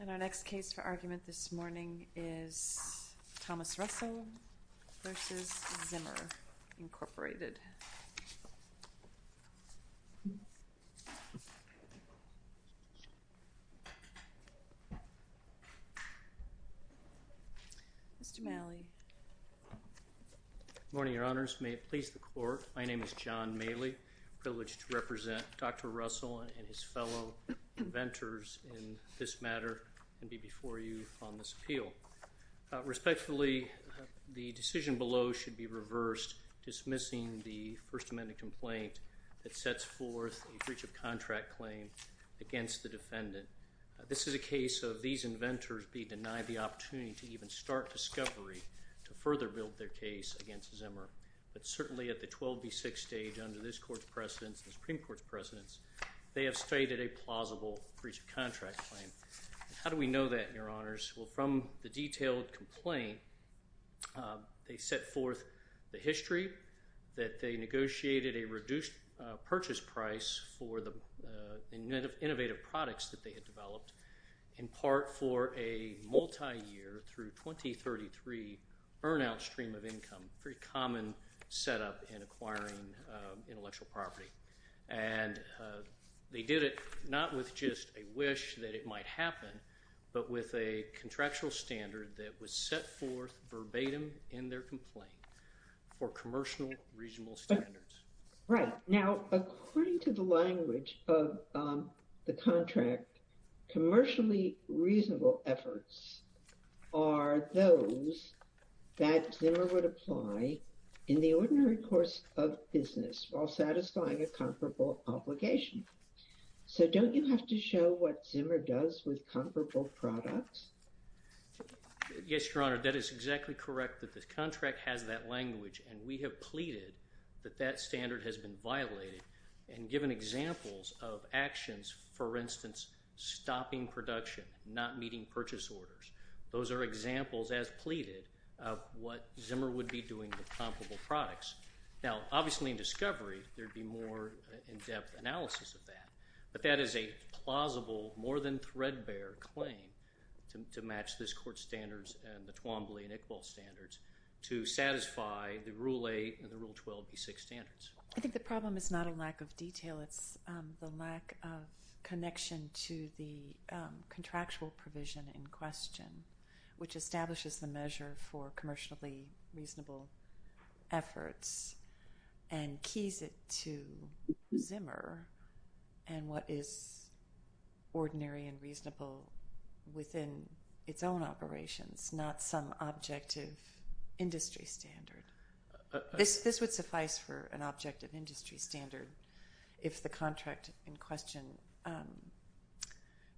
And our next case for argument this morning is Thomas Russell v. Zimmer, Inc. Mr. Malley. Good morning, Your Honors. May it please the Court, my name is John Malley. I'm privileged to represent Dr. Russell and his fellow inventors in this matter and be before you on this appeal. Respectfully, the decision below should be reversed, dismissing the First Amendment complaint that sets forth a breach of contract claim against the defendant. This is a case of these inventors being denied the opportunity to even start discovery to further build their case against Zimmer. But certainly at the 12B6 stage under this Court's precedence, the Supreme Court's precedence, they have stated a plausible breach of contract claim. How do we know that, Your Honors? Well, from the detailed complaint, they set forth the history that they negotiated a reduced purchase price for the innovative products that they had developed, in part for a multi-year through 2033 burnout stream of income, a very common setup in acquiring intellectual property. And they did it not with just a wish that it might happen, but with a contractual standard that was set forth verbatim in their complaint for commercial, regional standards. Right. Now, according to the language of the contract, commercially reasonable efforts are those that Zimmer would apply in the ordinary course of business while satisfying a comparable obligation. So don't you have to show what Zimmer does with comparable products? Yes, Your Honor. That is exactly correct that the contract has that language. And we have pleaded that that standard has been violated and given examples of actions, for instance, stopping production, not meeting purchase orders. Those are examples, as pleaded, of what Zimmer would be doing with comparable products. Now, obviously in discovery, there would be more in-depth analysis of that. But that is a plausible, more than threadbare claim to match this Court's standards and the Twombly and Iqbal standards to satisfy the Rule 8 and the Rule 12b6 standards. I think the problem is not a lack of detail. It's the lack of connection to the contractual provision in question, which establishes the measure for commercially reasonable efforts and keys it to Zimmer and what is ordinary and reasonable within its own operations, not some objective industry standard. This would suffice for an objective industry standard if the contract in question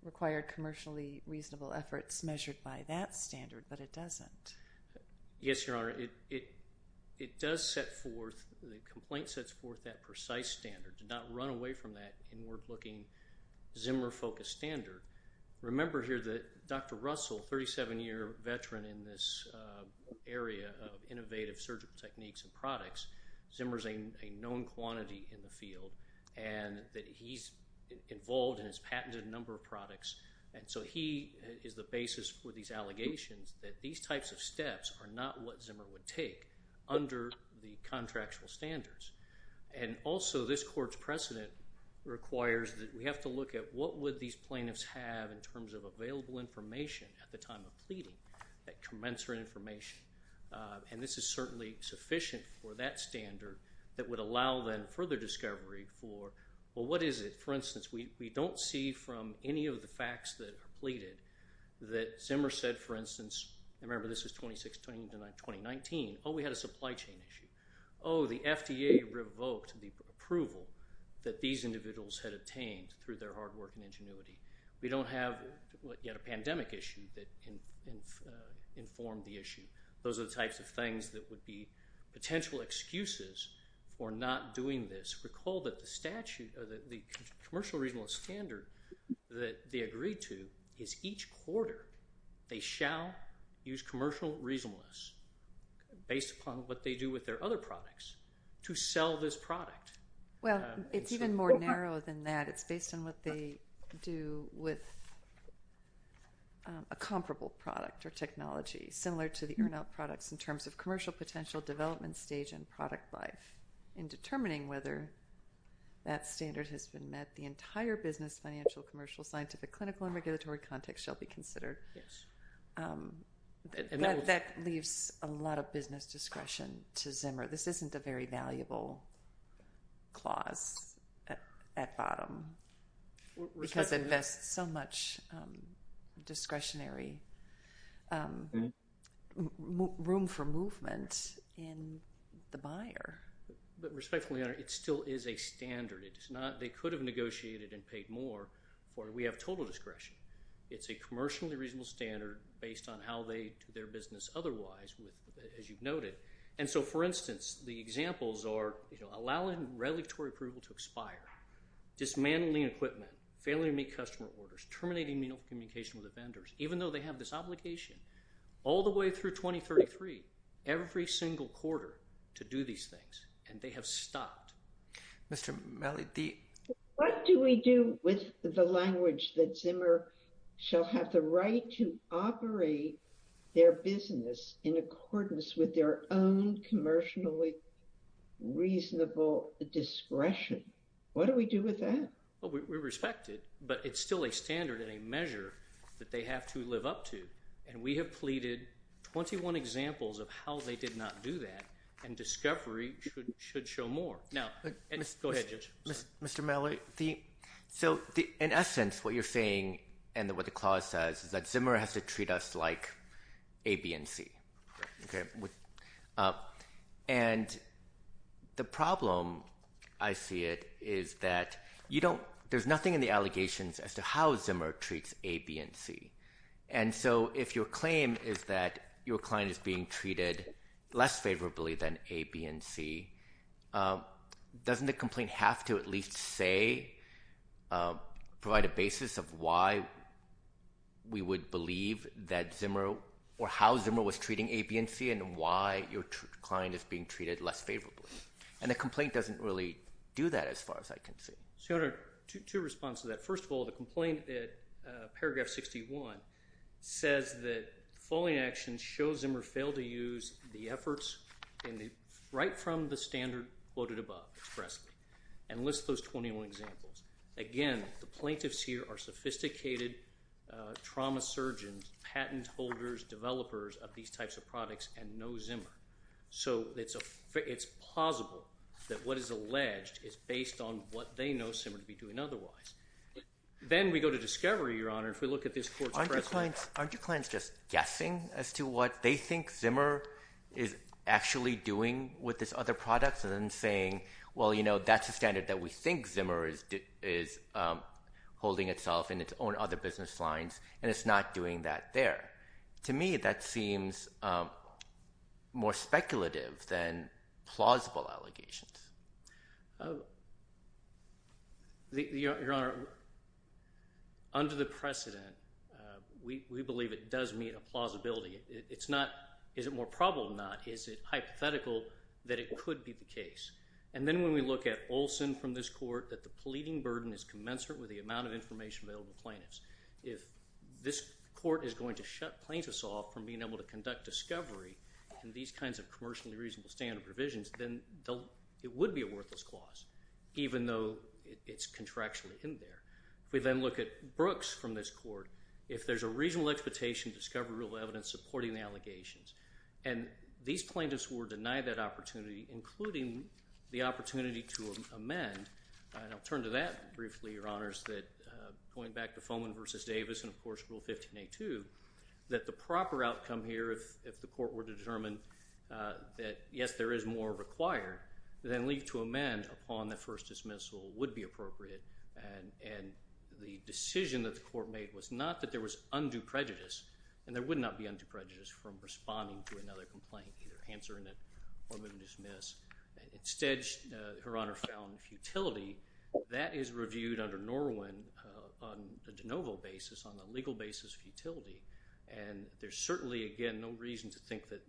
required commercially reasonable efforts measured by that standard, but it doesn't. Yes, Your Honor. It does set forth, the complaint sets forth that precise standard. Do not run away from that inward-looking Zimmer-focused standard. Remember here that Dr. Russell, 37-year veteran in this area of innovative surgical techniques and products, Zimmer's a known quantity in the field and that he's involved in his patented number of products. And so he is the basis for these allegations that these types of steps are not what Zimmer would take under the contractual standards. And also, this court's precedent requires that we have to look at what would these plaintiffs have in terms of available information at the time of pleading, that commensurate information. And this is certainly sufficient for that standard that would allow then further discovery for, well, what is it? For instance, we don't see from any of the facts that are pleaded that Zimmer said, for instance, remember this is 2016 to 2019, oh, we had a supply chain issue. Oh, the FDA revoked the approval that these individuals had obtained through their hard work and ingenuity. We don't have yet a pandemic issue that informed the issue. Those are the types of things that would be potential excuses for not doing this. Just recall that the commercial reasonableness standard that they agreed to is each quarter they shall use commercial reasonableness based upon what they do with their other products to sell this product. Well, it's even more narrow than that. It's based on what they do with a comparable product or technology, similar to the earn-out products in terms of commercial potential development stage and product life. In determining whether that standard has been met, the entire business, financial, commercial, scientific, clinical, and regulatory context shall be considered. That leaves a lot of business discretion to Zimmer. This isn't a very valuable clause at bottom because it invests so much discretionary room for movement in the buyer. But respectfully, it still is a standard. They could have negotiated and paid more for it. We have total discretion. It's a commercially reasonable standard based on how they do their business otherwise, as you've noted. And so, for instance, the examples are allowing regulatory approval to expire, dismantling equipment, failing to meet customer orders, terminating communication with the vendors, even though they have this obligation, all the way through 2033, every single quarter to do these things. And they have stopped. What do we do with the language that Zimmer shall have the right to operate their business in accordance with their own commercially reasonable discretion? What do we do with that? We respect it, but it's still a standard and a measure that they have to live up to. And we have pleaded 21 examples of how they did not do that. And discovery should show more. Go ahead, George. Mr. Malloy, so in essence, what you're saying and what the clause says is that Zimmer has to treat us like A, B, and C. And the problem, I see it, is that there's nothing in the allegations as to how Zimmer treats A, B, and C. And so, if your claim is that your client is being treated less favorably than A, B, and C, doesn't the complaint have to at least say, provide a basis of why we would believe that Zimmer or how Zimmer was treating A, B, and C and why your client is being treated less favorably? And the complaint doesn't really do that as far as I can see. Senator, two responses to that. First of all, the complaint at paragraph 61 says that the following actions show Zimmer failed to use the efforts right from the standard quoted above expressly. And list those 21 examples. Again, the plaintiffs here are sophisticated trauma surgeons, patent holders, developers of these types of products, and know Zimmer. So, it's possible that what is alleged is based on what they know Zimmer to be doing otherwise. Then we go to discovery, Your Honor, if we look at this quote expressly. Aren't your clients just guessing as to what they think Zimmer is actually doing with this other product? And then saying, well, you know, that's a standard that we think Zimmer is holding itself in its own other business lines, and it's not doing that there. To me, that seems more speculative than plausible allegations. Your Honor, under the precedent, we believe it does meet a plausibility. It's not, is it more probable than not, is it hypothetical that it could be the case. And then when we look at Olson from this court, that the pleading burden is commensurate with the amount of information available to plaintiffs. If this court is going to shut plaintiffs off from being able to conduct discovery in these kinds of commercially reasonable standard provisions, then it would be a worthless clause, even though it's contractually in there. If we then look at Brooks from this court, if there's a reasonable expectation to discover real evidence supporting the allegations, and these plaintiffs were denied that opportunity, including the opportunity to amend, and I'll turn to that briefly, Your Honors, that going back to Foman v. Davis and, of course, Rule 15a.2, that the proper outcome here, if the court were to determine that, yes, there is more required, then leave to amend upon the first dismissal would be appropriate. And the decision that the court made was not that there was undue prejudice, and there would not be undue prejudice from responding to another complaint, either answering it or moving to dismiss. Instead, Your Honor, found futility. That is reviewed under Norwin on a de novo basis, on the legal basis of futility, and there's certainly, again, no reason to think that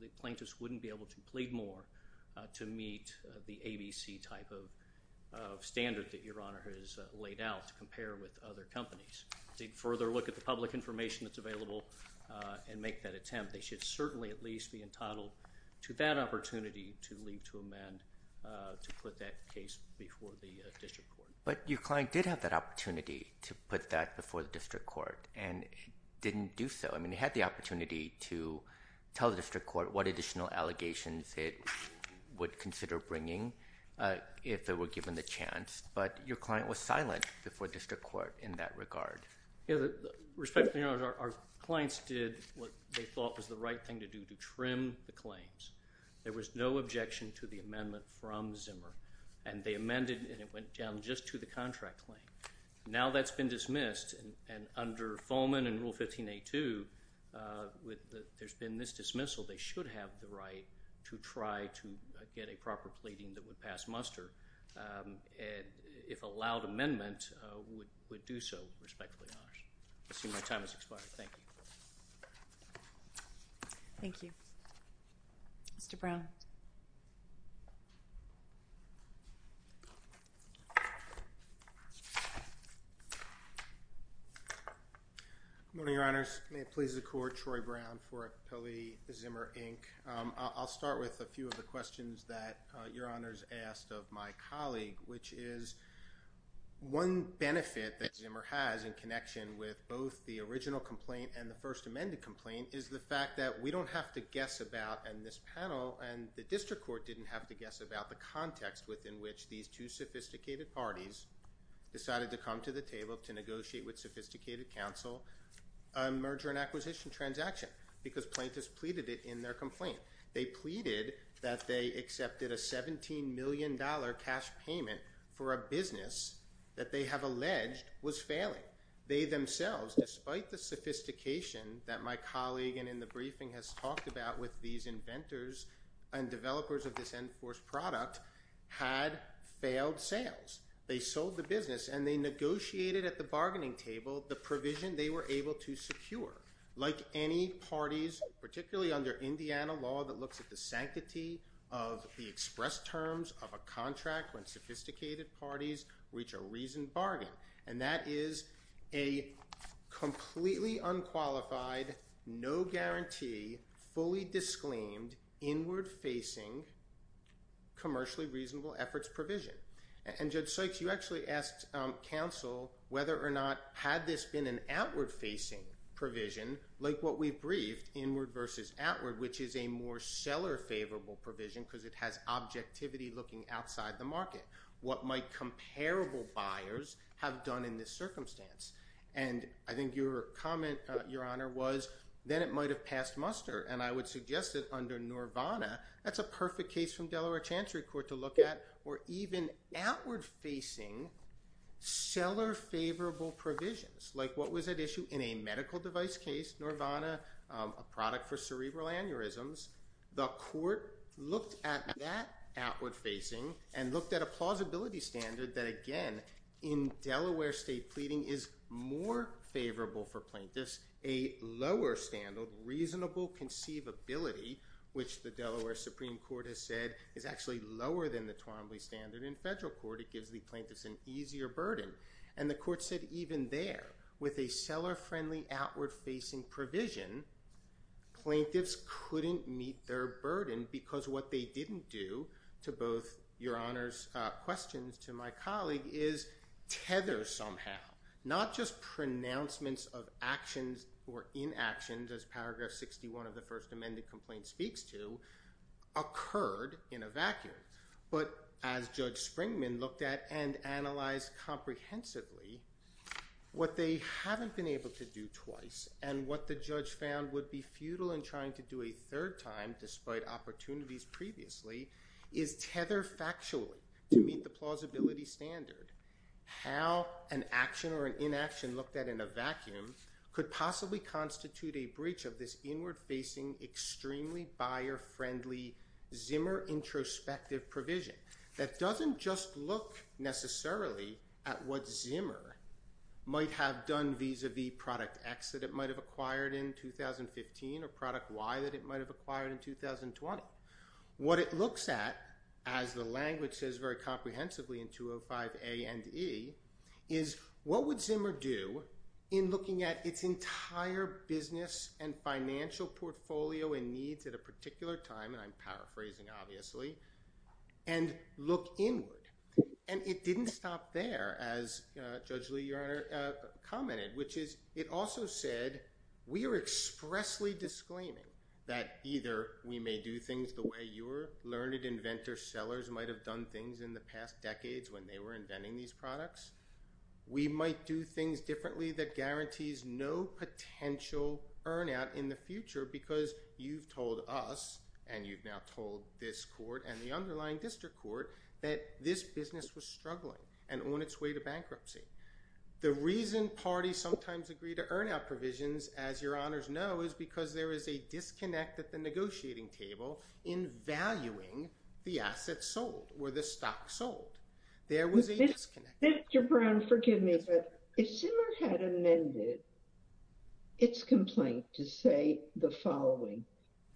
the plaintiffs wouldn't be able to plead more to meet the ABC type of standard that Your Honor has laid out to compare with other companies. They'd further look at the public information that's available and make that attempt. And they should certainly at least be entitled to that opportunity to leave to amend to put that case before the district court. But your client did have that opportunity to put that before the district court, and it didn't do so. I mean, it had the opportunity to tell the district court what additional allegations it would consider bringing if it were given the chance, but your client was silent before district court in that regard. Respectfully, Your Honor, our clients did what they thought was the right thing to do, to trim the claims. There was no objection to the amendment from Zimmer, and they amended, and it went down just to the contract claim. Now that's been dismissed, and under Foleman and Rule 15A2, there's been this dismissal. They should have the right to try to get a proper pleading that would pass muster if a loud amendment would do so, respectfully, Your Honor. I assume my time has expired. Thank you. Thank you. Mr. Brown. Good morning, Your Honors. May it please the Court, Troy Brown for Appellee Zimmer, Inc. I'll start with a few of the questions that Your Honors asked of my colleague, which is one benefit that Zimmer has in connection with both the original complaint and the first amended complaint is the fact that we don't have to guess about in this panel, and the district court didn't have to guess about the context within which these two sophisticated parties decided to come to the table to negotiate with sophisticated counsel a merger and acquisition transaction because plaintiffs pleaded it in their complaint. They pleaded that they accepted a $17 million cash payment for a business that they have alleged was failing. They themselves, despite the sophistication that my colleague and in the briefing has talked about with these inventors and developers of this Enforce product, had failed sales. They sold the business, and they negotiated at the bargaining table the provision they were able to secure. Like any parties, particularly under Indiana law that looks at the sanctity of the express terms of a contract when sophisticated parties reach a reasoned bargain, and that is a completely unqualified, no guarantee, fully disclaimed, inward-facing, commercially reasonable efforts provision. And Judge Sykes, you actually asked counsel whether or not had this been an outward-facing provision, like what we've briefed, inward versus outward, which is a more seller-favorable provision because it has objectivity looking outside the market. What might comparable buyers have done in this circumstance? And I think your comment, Your Honor, was then it might have passed muster, and I would suggest that under Norvana, that's a perfect case from Delaware Chancery Court to look at, or even outward-facing, seller-favorable provisions, like what was at issue in a medical device case, Norvana, a product for cerebral aneurysms. The court looked at that outward-facing and looked at a plausibility standard that, again, in Delaware state pleading, is more favorable for plaintiffs, a lower standard, reasonable conceivability, which the Delaware Supreme Court has said is actually lower than the Twombly standard in federal court. It gives the plaintiffs an easier burden. And the court said even there, with a seller-friendly outward-facing provision, plaintiffs couldn't meet their burden because what they didn't do, to both Your Honor's questions to my colleague, is tether somehow, not just pronouncements of actions or inactions, as paragraph 61 of the first amended complaint speaks to, occurred in a vacuum. But as Judge Springman looked at and analyzed comprehensively, what they haven't been able to do twice and what the judge found would be futile in trying to do a third time, despite opportunities previously, is tether factually to meet the plausibility standard. How an action or an inaction looked at in a vacuum could possibly constitute a breach of this inward-facing, extremely buyer-friendly Zimmer introspective provision that doesn't just look necessarily at what Zimmer might have done vis-a-vis product X that it might have acquired in 2015 or product Y that it might have acquired in 2020. What it looks at, as the language says very comprehensively in 205A and E, is what would Zimmer do in looking at its entire business and financial portfolio and needs at a particular time, and I'm paraphrasing obviously, and look inward. And it didn't stop there, as Judge Lee, Your Honor, commented, which is it also said we are expressly disclaiming that either we may do things the way your learned inventor sellers might have done things in the past decades when they were inventing these products. We might do things differently that guarantees no potential earn out in the future because you've told us, and you've now told this court and the underlying district court, that this business was struggling and on its way to bankruptcy. The reason parties sometimes agree to earn out provisions, as your honors know, is because there is a disconnect at the negotiating table in valuing the assets sold or the stock sold. There was a disconnect. Mr. Brown, forgive me, but if Zimmer had amended its complaint to say the following,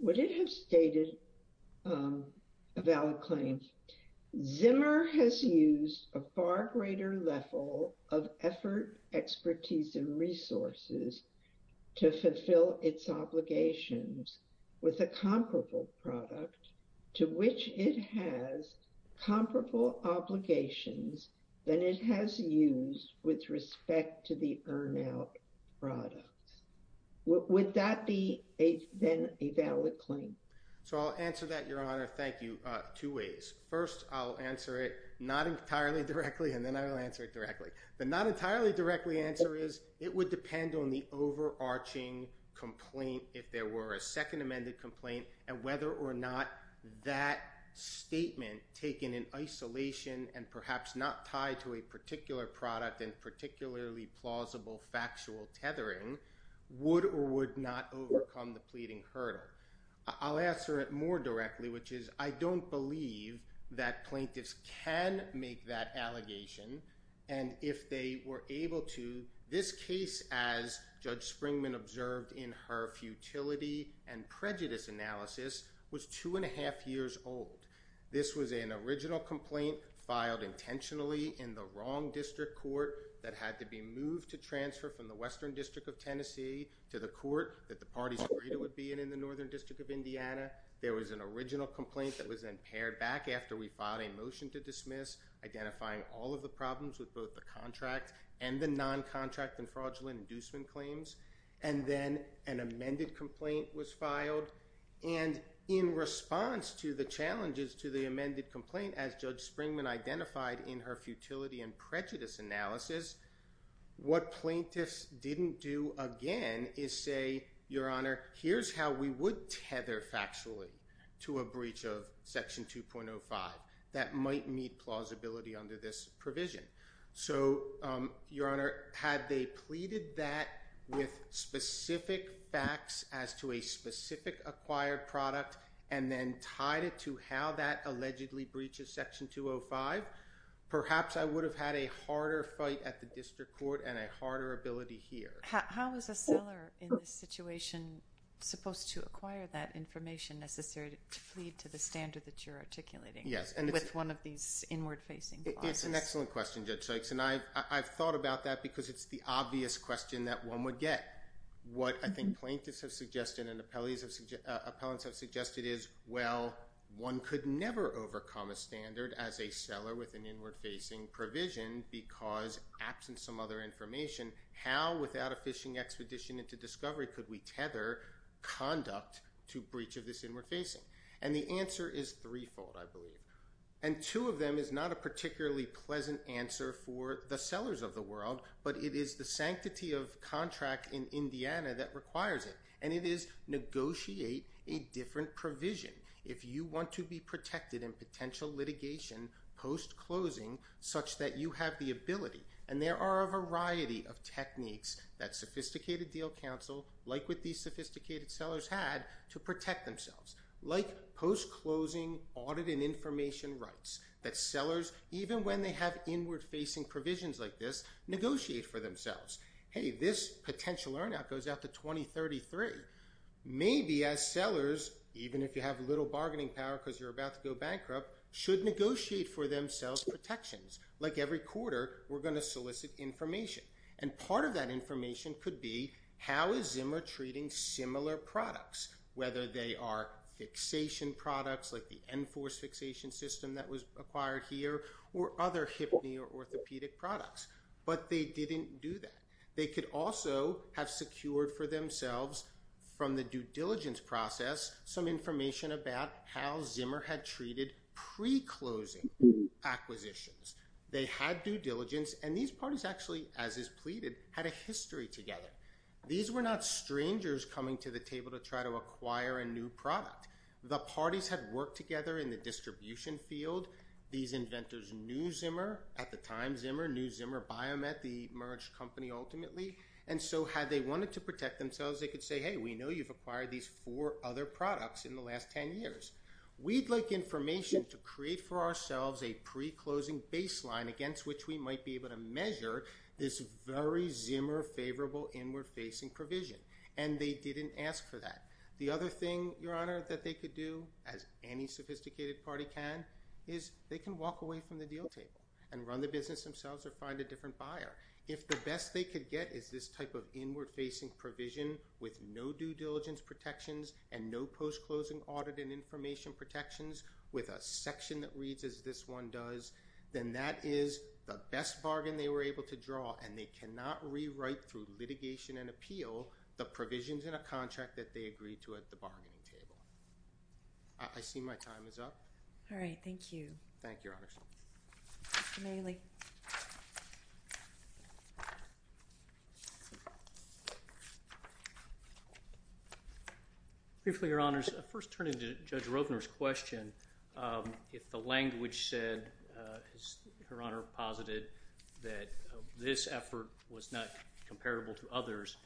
would it have stated a valid claim? Zimmer has used a far greater level of effort, expertise, and resources to fulfill its obligations with a comparable product to which it has comparable obligations than it has used with respect to the earn out product. Would that be a valid claim? So I'll answer that, your honor. Thank you. Two ways. First, I'll answer it not entirely directly, and then I will answer it directly. The not entirely directly answer is it would depend on the overarching complaint. If there were a second amended complaint and whether or not that statement taken in isolation and perhaps not tied to a particular product and particularly plausible factual tethering, would or would not overcome the pleading hurdle. I'll answer it more directly, which is I don't believe that plaintiffs can make that allegation, and if they were able to, this case, as Judge Springman observed in her futility and prejudice analysis, was two and a half years old. This was an original complaint filed intentionally in the wrong district court that had to be moved to transfer from the Western District of Tennessee to the court that the parties agreed it would be in in the Northern District of Indiana. There was an original complaint that was then pared back after we filed a motion to dismiss, identifying all of the problems with both the contract and the noncontract and fraudulent inducement claims, and then an amended complaint was filed. And in response to the challenges to the amended complaint, as Judge Springman identified in her futility and prejudice analysis, what plaintiffs didn't do again is say, Your Honor, here's how we would tether factually to a breach of Section 2.05 that might meet plausibility under this provision. So, Your Honor, had they pleaded that with specific facts as to a specific acquired product and then tied it to how that allegedly breaches Section 2.05, perhaps I would have had a harder fight at the district court and a harder ability here. How is a seller in this situation supposed to acquire that information necessary to plead to the standard that you're articulating with one of these inward-facing clauses? It's an excellent question, Judge Sykes, and I've thought about that because it's the obvious question that one would get. What I think plaintiffs have suggested and appellants have suggested is, well, one could never overcome a standard as a seller with an inward-facing provision because absent some other information, how, without a fishing expedition into discovery, could we tether conduct to breach of this inward-facing? And the answer is threefold, I believe. And two of them is not a particularly pleasant answer for the sellers of the world, but it is the sanctity of contract in Indiana that requires it, and it is negotiate a different provision. If you want to be protected in potential litigation post-closing such that you have the ability, and there are a variety of techniques that sophisticated deal counsel, like what these sophisticated sellers had, to protect themselves. Like post-closing audit and information rights that sellers, even when they have inward-facing provisions like this, negotiate for themselves. Hey, this potential earn out goes out to 2033. Maybe as sellers, even if you have little bargaining power because you're about to go bankrupt, should negotiate for themselves protections, like every quarter we're going to solicit information. And part of that information could be how is Zimmer treating similar products, whether they are fixation products, like the Enforce fixation system that was acquired here, or other hip or orthopedic products. But they didn't do that. They could also have secured for themselves from the due diligence process some information about how Zimmer had treated pre-closing acquisitions. They had due diligence, and these parties actually, as is pleaded, had a history together. These were not strangers coming to the table to try to acquire a new product. The parties had worked together in the distribution field. These inventors knew Zimmer at the time, knew Zimmer Biomet, the merged company ultimately, and so had they wanted to protect themselves, they could say, hey, we know you've acquired these four other products in the last 10 years. We'd like information to create for ourselves a pre-closing baseline against which we might be able to measure this very Zimmer-favorable inward-facing provision. And they didn't ask for that. The other thing, Your Honor, that they could do, as any sophisticated party can, is they can walk away from the deal table and run the business themselves or find a different buyer. If the best they could get is this type of inward-facing provision with no due diligence protections and no post-closing audit and information protections with a section that reads as this one does, then that is the best bargain they were able to draw, and they cannot rewrite through litigation and appeal the provisions in a contract that they agreed to at the bargaining table. I see my time is up. All right. Thank you. Thank you, Your Honors. Mr. Maley. Briefly, Your Honors, first turning to Judge Rovner's question, if the language said, as Her Honor posited, that this effort was not comparable to others,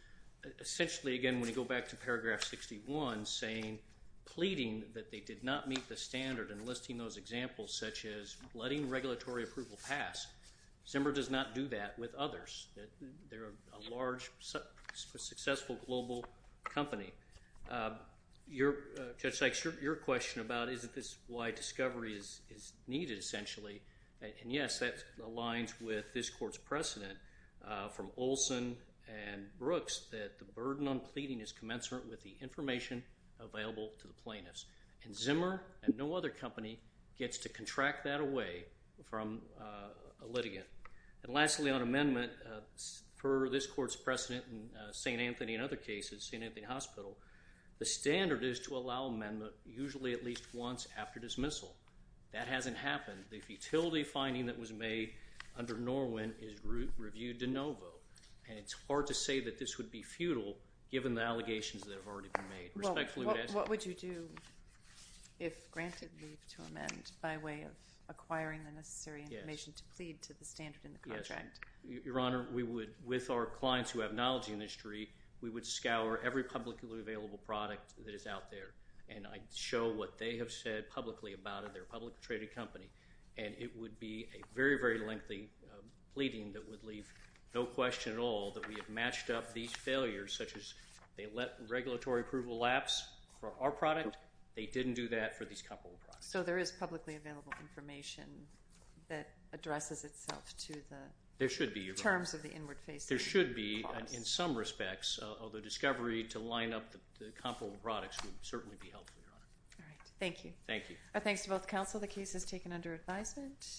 essentially, again, when you go back to paragraph 61 saying, pleading that they did not meet the standard and listing those examples such as letting regulatory approval pass, Zimmer does not do that with others. They're a large, successful global company. Judge Sykes, your question about isn't this why discovery is needed, essentially, and, yes, that aligns with this Court's precedent from Olson and Brooks, that the burden on pleading is commensurate with the information available to the plaintiffs, and Zimmer and no other company gets to contract that away from a litigant. And lastly, on amendment, for this Court's precedent in St. Anthony and other cases, St. Anthony Hospital, the standard is to allow amendment usually at least once after dismissal. That hasn't happened. The futility finding that was made under Norwin is reviewed de novo, and it's hard to say that this would be futile given the allegations that have already been made. Respectfully, I would add to that. Your Honor, what would you do if granted leave to amend by way of acquiring the necessary information to plead to the standard in the contract? Yes. Your Honor, we would, with our clients who have knowledge in this industry, we would scour every publicly available product that is out there, and I'd show what they have said publicly about it, their publicly traded company, and it would be a very, very lengthy pleading that would leave no question at all that we have matched up these failures, such as they let regulatory approval lapse for our product. They didn't do that for these comparable products. So there is publicly available information that addresses itself to the terms of the inward-facing clause. There should be, in some respects, although discovery to line up the comparable products would certainly be helpful, Your Honor. All right. Thank you. Thank you. Thanks to both counsel. The case is taken under advisement.